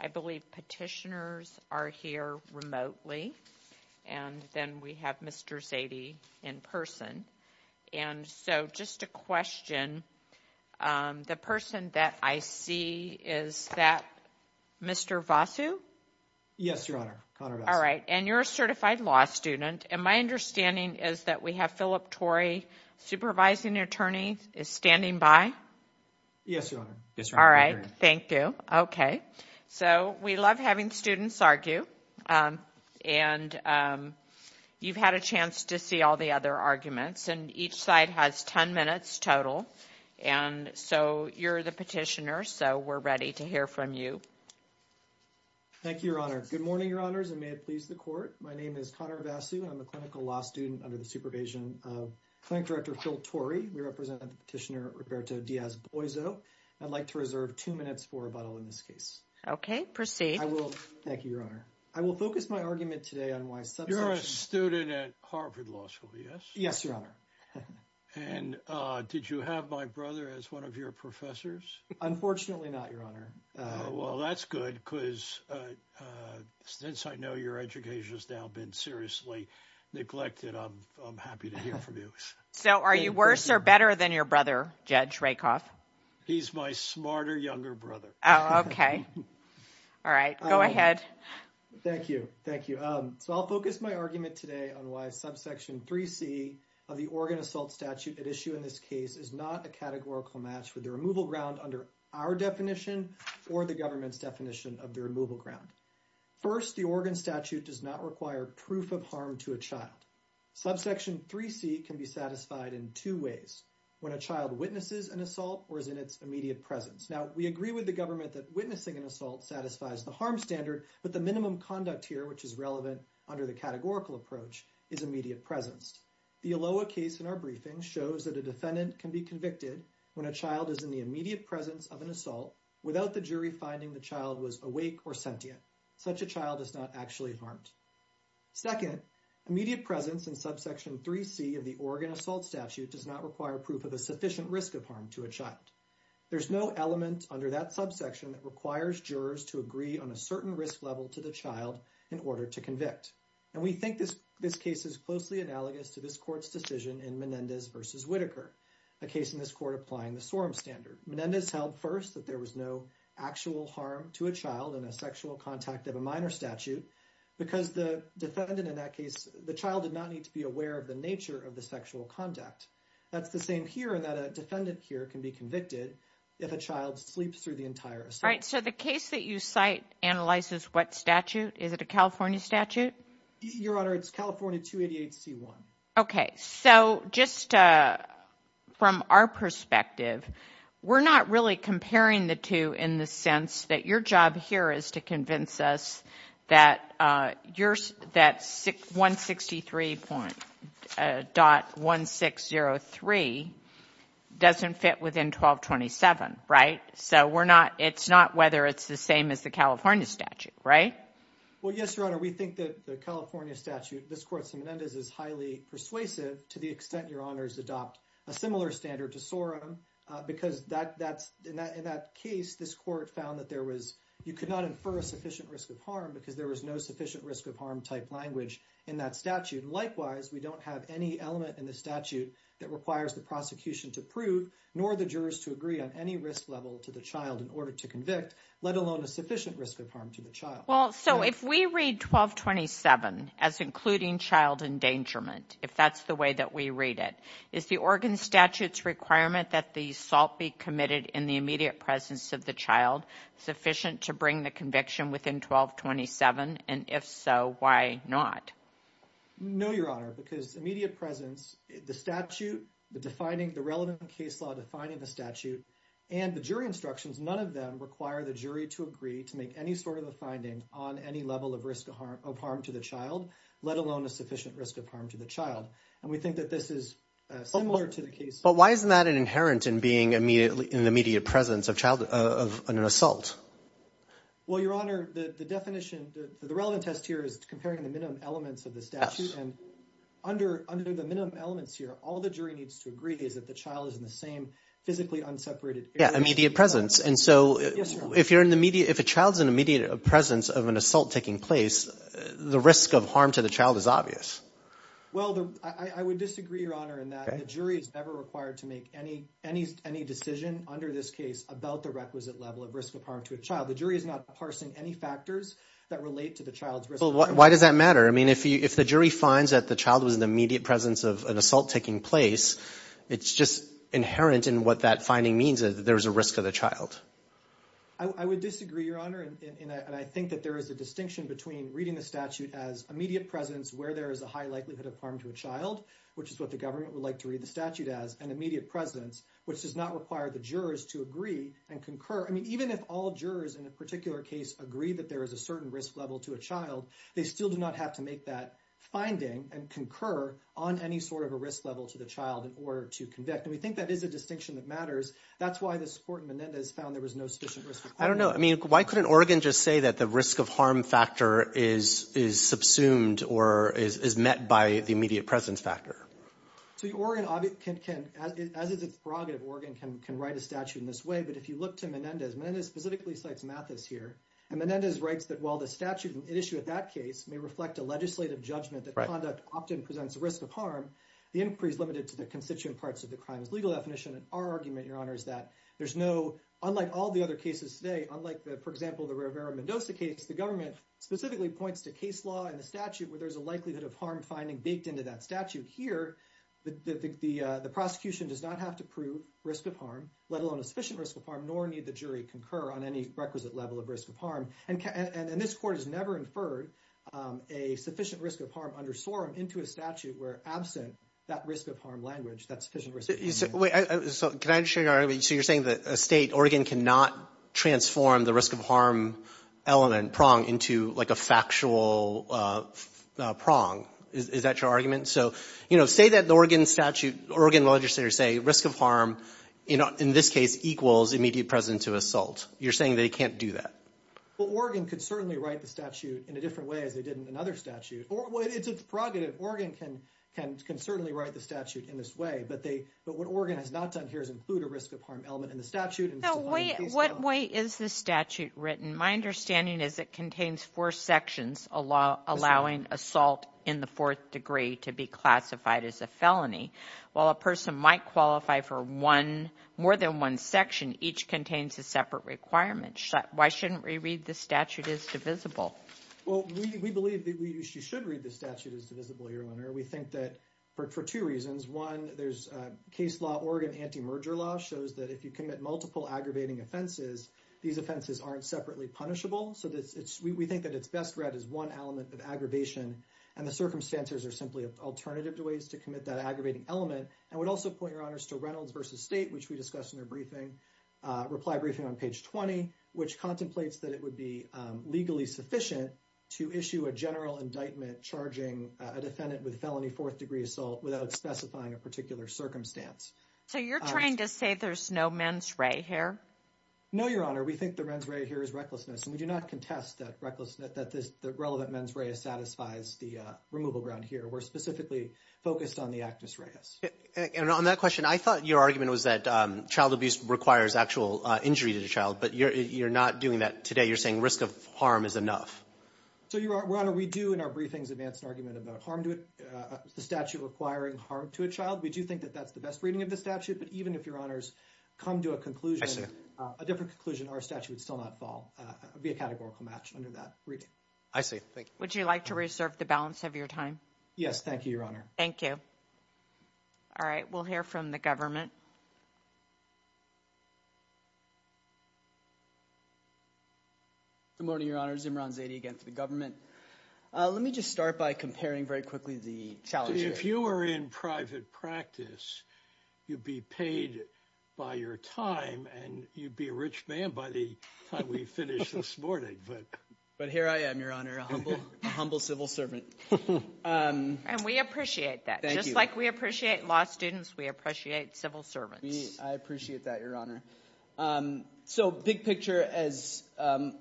I believe petitioners are here remotely and then we have Mr. Zadie in person and so just a question the person that I see is that Mr. Vossu? Yes your honor. All right and you're a certified law student and my understanding is that we have Philip Torrey supervising attorney is standing by. Yes your honor. All right thank you. Okay so we love having students argue and you've had a chance to see all the other arguments and each side has 10 minutes total and so you're the petitioner so we're ready to hear from you. Thank you your honor. Good morning your honors and may it please the court. My name is Connor Vossu I'm a clinical law student under the supervision of clinic director Phil Torrey. We represent petitioner Roberto Diaz-Boyzo. I'd like to reserve two minutes for rebuttal in this case. Okay proceed. I will thank you your honor. I will focus my argument today on why. You're a student at Harvard Law School yes? Yes your honor. And did you have my brother as one of your professors? Unfortunately not your honor. Well that's good because since I know your education has now been seriously neglected I'm happy to hear from you. So are you worse or better than your brother Judge Rakoff? He's my smarter younger brother. Okay all right go ahead. Thank you thank you. So I'll focus my argument today on why subsection 3c of the Oregon assault statute at issue in this case is not a categorical match for the removal ground under our definition or the government's definition of the removal ground. First the Oregon statute does not require proof of harm to a child. Subsection 3c can be satisfied in two ways when a child witnesses an assault or is in its immediate presence. Now we agree with the government that witnessing an assault satisfies the harm standard but the minimum conduct here which is relevant under the categorical approach is immediate presence. The Aloha case in our briefing shows that a defendant can be convicted when a child is in the immediate presence of an assault without the jury finding the child was awake or sentient. Such a child is not actually harmed. Second immediate presence in subsection 3c of the Oregon assault statute does not require proof of a sufficient risk of harm to a child. There's no element under that subsection that requires jurors to agree on a certain risk level to the child in order to convict and we think this this case is closely analogous to this court's decision in Menendez versus Whitaker a case in this court applying the SORM standard. Menendez held first that there was no actual harm to a child in a sexual contact of a minor statute because the defendant in that case the child did not need to be aware of the nature of the sexual conduct. That's the same here that a defendant here can be convicted if a child sleeps through the entire assault. Right so the case that you cite analyzes what statute is it a California statute? Your Honor it's California 288c1. Okay so just from our perspective we're not really comparing the two in the sense that your job here is to convince us that that 163.1603 doesn't fit within 1227 right? So we're not it's not whether it's the same as the California statute right? Well yes Your Honor we think that the California statute this court's in Menendez is highly persuasive to the extent your adopt a similar standard to SORM because that that's in that in that case this court found that there was you could not infer a sufficient risk of harm because there was no sufficient risk of harm type language in that statute. Likewise we don't have any element in the statute that requires the prosecution to prove nor the jurors to agree on any risk level to the child in order to convict let alone a sufficient risk of harm to the child. Well so if we read 1227 as including child endangerment if that's the way that we read it is the Oregon statutes requirement that the assault be committed in the immediate presence of the child sufficient to bring the conviction within 1227 and if so why not? No Your Honor because immediate presence the statute the defining the relevant case law defining the statute and the jury instructions none of them require the jury to agree to make any sort of a finding on any level of risk of harm of harm to the child let alone a and we think that this is similar to the case. But why isn't that an inherent in being immediately in the immediate presence of child of an assault? Well Your Honor the the definition the relevant test here is comparing the minimum elements of the statute and under under the minimum elements here all the jury needs to agree is that the child is in the same physically unseparated immediate presence and so if you're in the media if a child's an immediate presence of an assault taking place the risk of harm to the child is Well I would disagree Your Honor in that the jury is never required to make any any any decision under this case about the requisite level of risk of harm to a child the jury is not parsing any factors that relate to the child's risk Why does that matter? I mean if you if the jury finds that the child was in the immediate presence of an assault taking place it's just inherent in what that finding means that there's a risk of the child. I would disagree Your Honor and I think that there is a distinction between reading the statute as immediate presence where there is a high likelihood of harm to a child which is what the government would like to read the statute as an immediate presence which does not require the jurors to agree and concur I mean even if all jurors in a particular case agree that there is a certain risk level to a child they still do not have to make that finding and concur on any sort of a risk level to the child in order to convict and we think that is a distinction that matters that's why this court in Menendez found there was no sufficient risk. I don't know I mean why couldn't Oregon just say that the risk of harm factor is subsumed or is met by the immediate presence factor? Oregon can as is its prerogative Oregon can write a statute in this way but if you look to Menendez, Menendez specifically cites Mathis here and Menendez writes that while the statute issue at that case may reflect a legislative judgment that conduct often presents a risk of harm the inquiry is limited to the constituent parts of the crime's legal definition and our argument Your Honor is that there's no unlike all the other cases today unlike the for example the Rivera-Mendoza case the government specifically points to case law and the statute where there's a likelihood of harm finding baked into that statute here the the prosecution does not have to prove risk of harm let alone a sufficient risk of harm nor need the jury concur on any requisite level of risk of harm and this court has never inferred a sufficient risk of harm under SORM into a statute where absent that risk of harm language that's sufficient risk. So you're saying that a state Oregon cannot transform the risk of harm element prong into like a factual prong is that your argument so you know say that the Oregon statute Oregon legislators say risk of harm you know in this case equals immediate present to assault you're saying they can't do that. Well Oregon could certainly write the statute in a different way as they did in another statute or it's a prerogative Oregon can can can certainly write the statute in this way but they but what Oregon has not done here is include a risk of harm element in the statute and So what way is the statute written? My understanding is it contains four sections allowing assault in the fourth degree to be classified as a felony. While a person might qualify for one more than one section each contains a separate requirement. Why shouldn't we read the statute as divisible? Well we believe that we should read the statute as divisible. We think that for two reasons one there's case law Oregon anti-merger law shows that if you commit multiple aggravating offenses these offenses aren't separately punishable so that's it's we think that it's best read as one element of aggravation and the circumstances are simply an alternative to ways to commit that aggravating element and would also point your honors to Reynolds versus State which we discussed in their briefing reply briefing on page 20 which contemplates that it would be legally sufficient to issue a general indictment charging a defendant with felony fourth degree assault without specifying a particular circumstance. So you're trying to say there's no mens re here? No your honor we think the mens re here is recklessness and we do not contest that recklessness that this the relevant mens re satisfies the removal ground here we're specifically focused on the actus reus. And on that question I thought your argument was that child abuse requires actual injury to the child but you're not doing that today you're saying risk of harm is enough. So your honor we do in our briefings advance an argument about harm to it the statute requiring harm to a child we do think that that's the best reading of the statute but even if your honors come to a conclusion a different conclusion our statute would still not fall be a categorical match under that reading. I see thank you. Would you like to reserve the balance of your time? Yes thank you your honor. Thank you. All right we'll hear from the government. Good morning your honors Imran Zaidi again for the government. Let me just start by comparing very quickly the challenges. If you were in private practice you'd be paid by your time and you'd be a rich man by the time we finish this morning. But here I am your honor a humble civil servant. And we appreciate that just like we appreciate law students we appreciate civil servants. I appreciate that your honor. So big picture as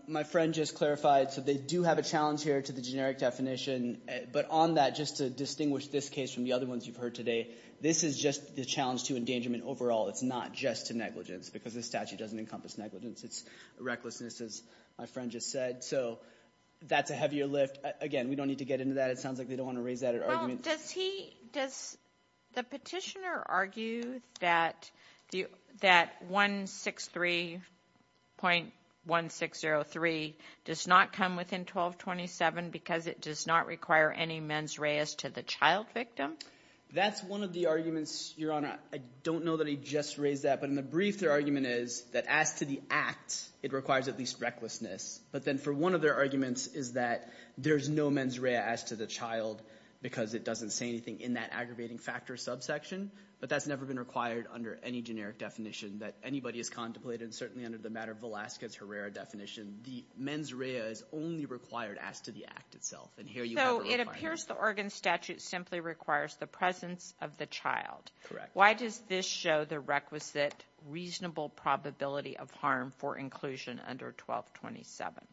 my friend just clarified so they do have a generic definition but on that just to distinguish this case from the other ones you've heard today this is just the challenge to endangerment overall it's not just to negligence because this statute doesn't encompass negligence it's recklessness as my friend just said. So that's a heavier lift. Again we don't need to get into that it sounds like they don't want to raise that argument. Does he does the petitioner argue that that 163.1603 does not come within 1227 because it does not require any mens reas to the child victim? That's one of the arguments your honor I don't know that he just raised that but in the brief their argument is that as to the act it requires at least recklessness. But then for one of their arguments is that there's no mens rea as to the child because it doesn't say anything in that aggravating factors subsection. But that's never been required under any generic definition that anybody is contemplated certainly under the matter of Velasquez Herrera definition the mens rea is only required as to the act itself. So it appears the Oregon statute simply requires the presence of the child. Correct. Why does this show the requisite reasonable probability of harm for inclusion under 1227?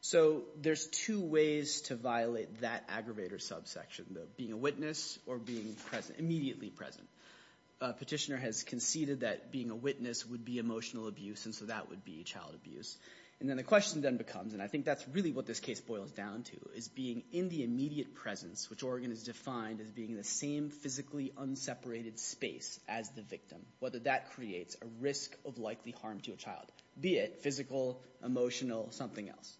So there's two ways to violate that aggravator subsection the being a witness or being present immediately present. Petitioner has conceded that being a witness would be emotional abuse and so that would be child abuse. And then the question then becomes and I think that's really what this case boils down to is being in the immediate presence which Oregon is defined as being the same physically unseparated space as the victim. Whether that creates a risk of likely harm to a child be it physical emotional something else.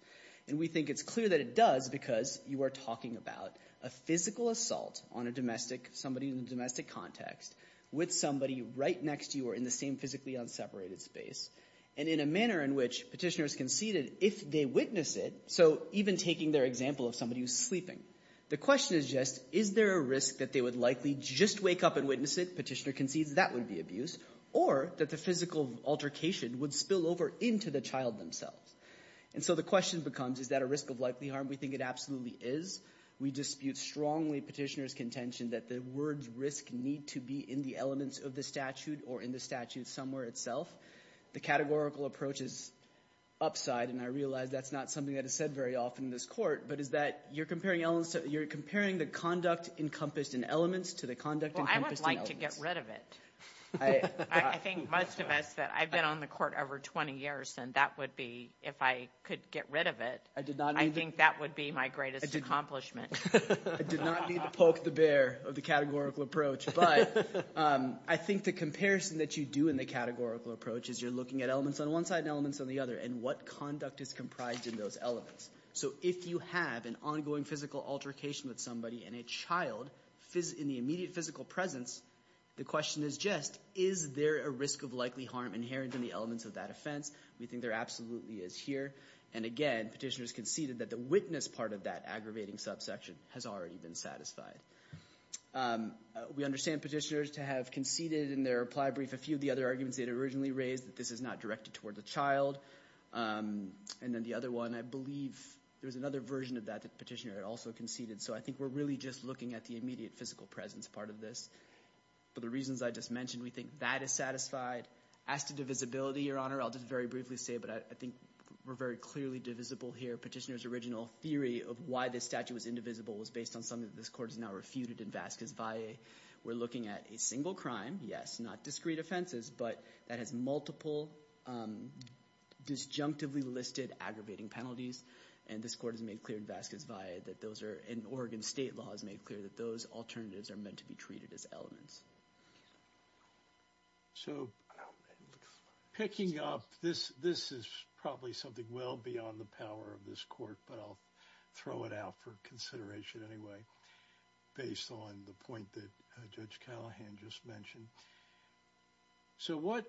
And we think it's clear that it does because you are talking about a physical assault on a domestic somebody in the domestic context with somebody right next to you or in the same physically unseparated space and in a manner in which petitioners conceded if they witness it so even taking their example of somebody who's sleeping. The question is just is there a risk that they would likely just wake up and witness it petitioner concedes that would be abuse or that the physical altercation would spill over into the child themselves. And so the question becomes is that a risk of likely harm we think it absolutely is. We dispute strongly petitioners contention that the words risk need to be in the elements of the statute or in the statute somewhere itself. The categorical approach is upside and I realize that's not something that is said very often in this court but is that you're comparing elements that you're comparing the conduct encompassed in elements to the conduct encompassed in elements. Well I would like to get rid of it. I think most of us that I've been on the court over 20 years and that would be if I could get rid of it. I did not. I think that would be my greatest accomplishment. I did not need to poke the bear of the categorical approach but I think the comparison that you do in the categorical approach is you're looking at elements on one side and elements on the other and what conduct is comprised in those elements. So if you have an ongoing physical altercation with somebody and a child in the immediate physical presence the question is just is there a risk of likely harm inherent in the elements of that offense. We think there absolutely is here and again petitioners conceded that the witness part of that aggravating subsection has already been satisfied. We understand petitioners to have conceded in their reply brief a few of the other arguments they had originally raised that this is not directed toward the child and then the other one I believe there's another version of that that petitioner had also conceded so I think we're really just looking at the immediate physical presence part of this but the reasons I just mentioned we think that is satisfied. As to divisibility your honor I'll just very briefly say but I think we're very clearly divisible here petitioners original theory of why this statute was indivisible was based on something this court is now refuted in Vasquez-Valle we're looking at a single crime yes not discrete offenses but that has multiple disjunctively listed aggravating penalties and this court has made clear in Vasquez-Valle that those are in Oregon state law has made clear that those alternatives are meant to be treated as elements. So picking up this this is probably something well beyond the power of this court but I'll throw it out for consideration anyway based on the point that Judge Callahan just mentioned. So what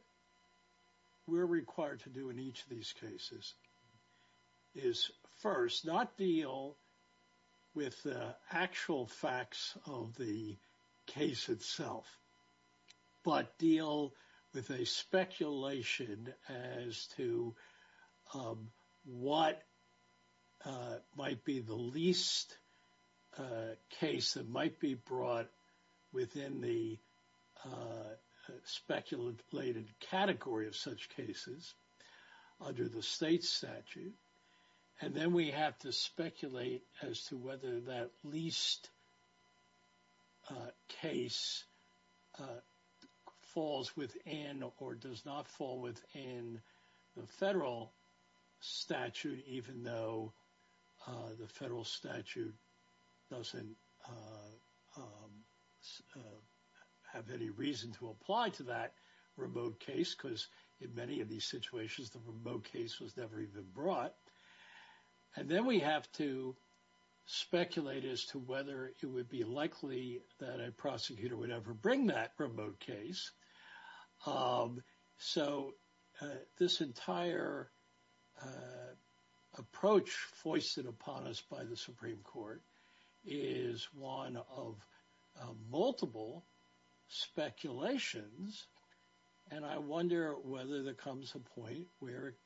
we're required to do in each of these cases is first not deal with actual facts of the case itself but deal with a speculation as to what might be the least case that might be brought within the speculative plated category of such cases under the state statute and then we have to speculate as to whether that least case falls within or does not fall within the federal statute even though the federal statute doesn't have any reason to apply to that remote case because in many of those situations the remote case was never even brought and then we have to speculate as to whether it would be likely that a prosecutor would ever bring that remote case. So this entire approach foisted upon us by the Supreme where it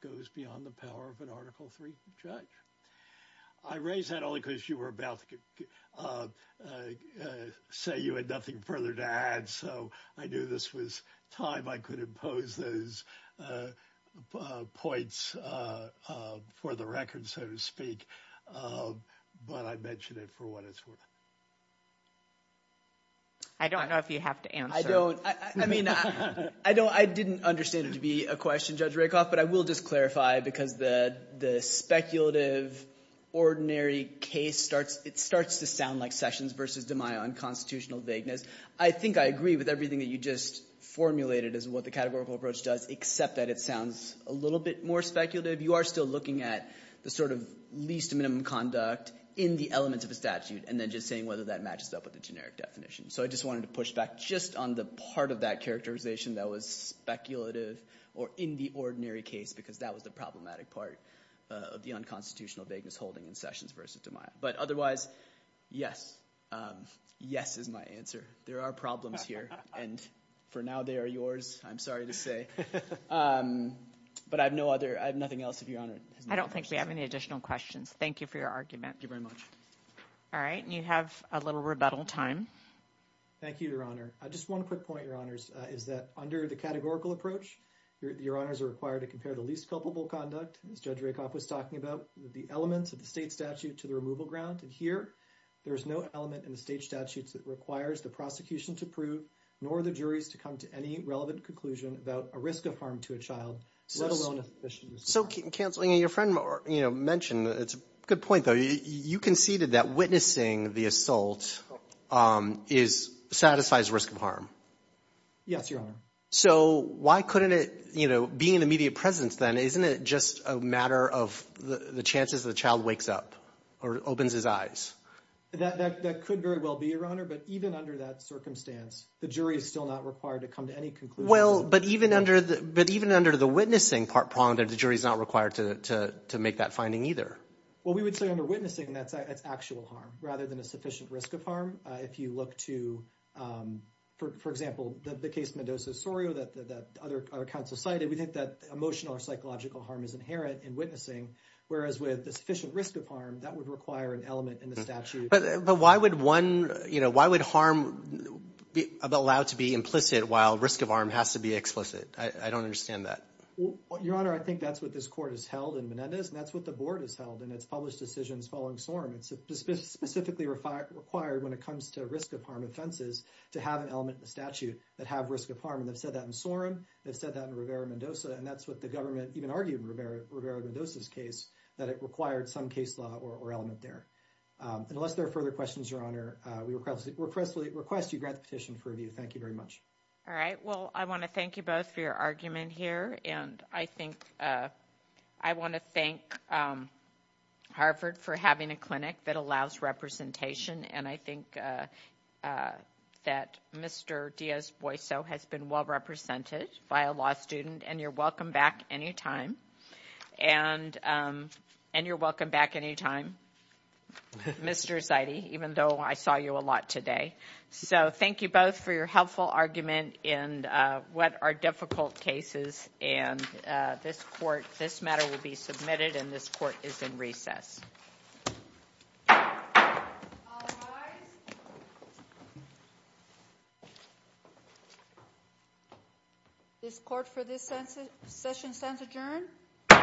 goes beyond the power of an article three judge. I raise that only because you were about to say you had nothing further to add so I knew this was time I could impose those points for the record so to speak but I mention it for what it's worth. I don't know if you have to answer. I don't I mean I don't I didn't understand it to be a question Judge Rakoff but I will just clarify because the speculative ordinary case starts it starts to sound like Sessions versus DiMaio unconstitutional vagueness. I think I agree with everything that you just formulated as what the categorical approach does except that it sounds a little bit more speculative. You are still looking at the sort of least minimum conduct in the elements of a statute and then just saying whether that matches up with the generic definition. So I just wanted to push back just on the part of that characterization that was speculative or in the ordinary case because that was the problematic part of the unconstitutional vagueness holding in Sessions versus DiMaio but otherwise yes yes is my answer. There are problems here and for now they are yours I'm sorry to say but I have no other I have nothing else if your honor. I don't think we have any additional questions. Thank you for your argument. Thank you very much. All right you have a little rebuttal time. Thank you your honor. I just want to quick point your honors is that under the categorical approach your honors are required to compare the least culpable conduct as Judge Rakoff was talking about the elements of the state statute to the removal ground and here there is no element in the state statutes that requires the prosecution to prove nor the juries to come to any relevant conclusion about a risk of harm to a child. So canceling your friend or you know mentioned it's a good point though you conceded that witnessing the assault is satisfies risk of harm. Yes your honor. So why couldn't it you know being an immediate presence then isn't it just a matter of the chances the child wakes up or opens his eyes. That could very well be your honor but even under that circumstance the jury is still not required to come to any conclusion. Well but even under the but even under the witnessing part pronged the jury is not required to make that finding either. Well we would say under witnessing that's actual harm rather than a sufficient risk of harm if you look to for example the case Mendoza-Sorio that the other counsel cited we think that emotional or psychological harm is inherent in witnessing whereas with the sufficient risk of harm that would require an element in the statute. But but why would one you know why would harm be allowed to be implicit while risk of harm has to be explicit I don't understand that. Well your honor I think that's what this court has held in Mendez and that's what the board has held and it's published decisions following Sorum. It's specifically required when it comes to risk of harm offenses to have an element in the statute that have risk of harm and they've said that in Sorum they've said that in Rivera Mendoza and that's what the government even argued in Rivera Mendoza's case that it required some case law or element there. Unless there are further questions your honor we request request you grant the petition for review. Thank you very much. All right well I want to thank you both for your argument here and I think I want to thank Harvard for having a clinic that allows representation and I think that Mr. Diaz Boiso has been well represented by a law student and you're welcome back anytime and and you're welcome back anytime Mr. Zidey even though I saw you a lot today. So thank you both for your helpful argument in what are difficult cases and this court this matter will be submitted and this court is in recess. This court for this session stands adjourned. you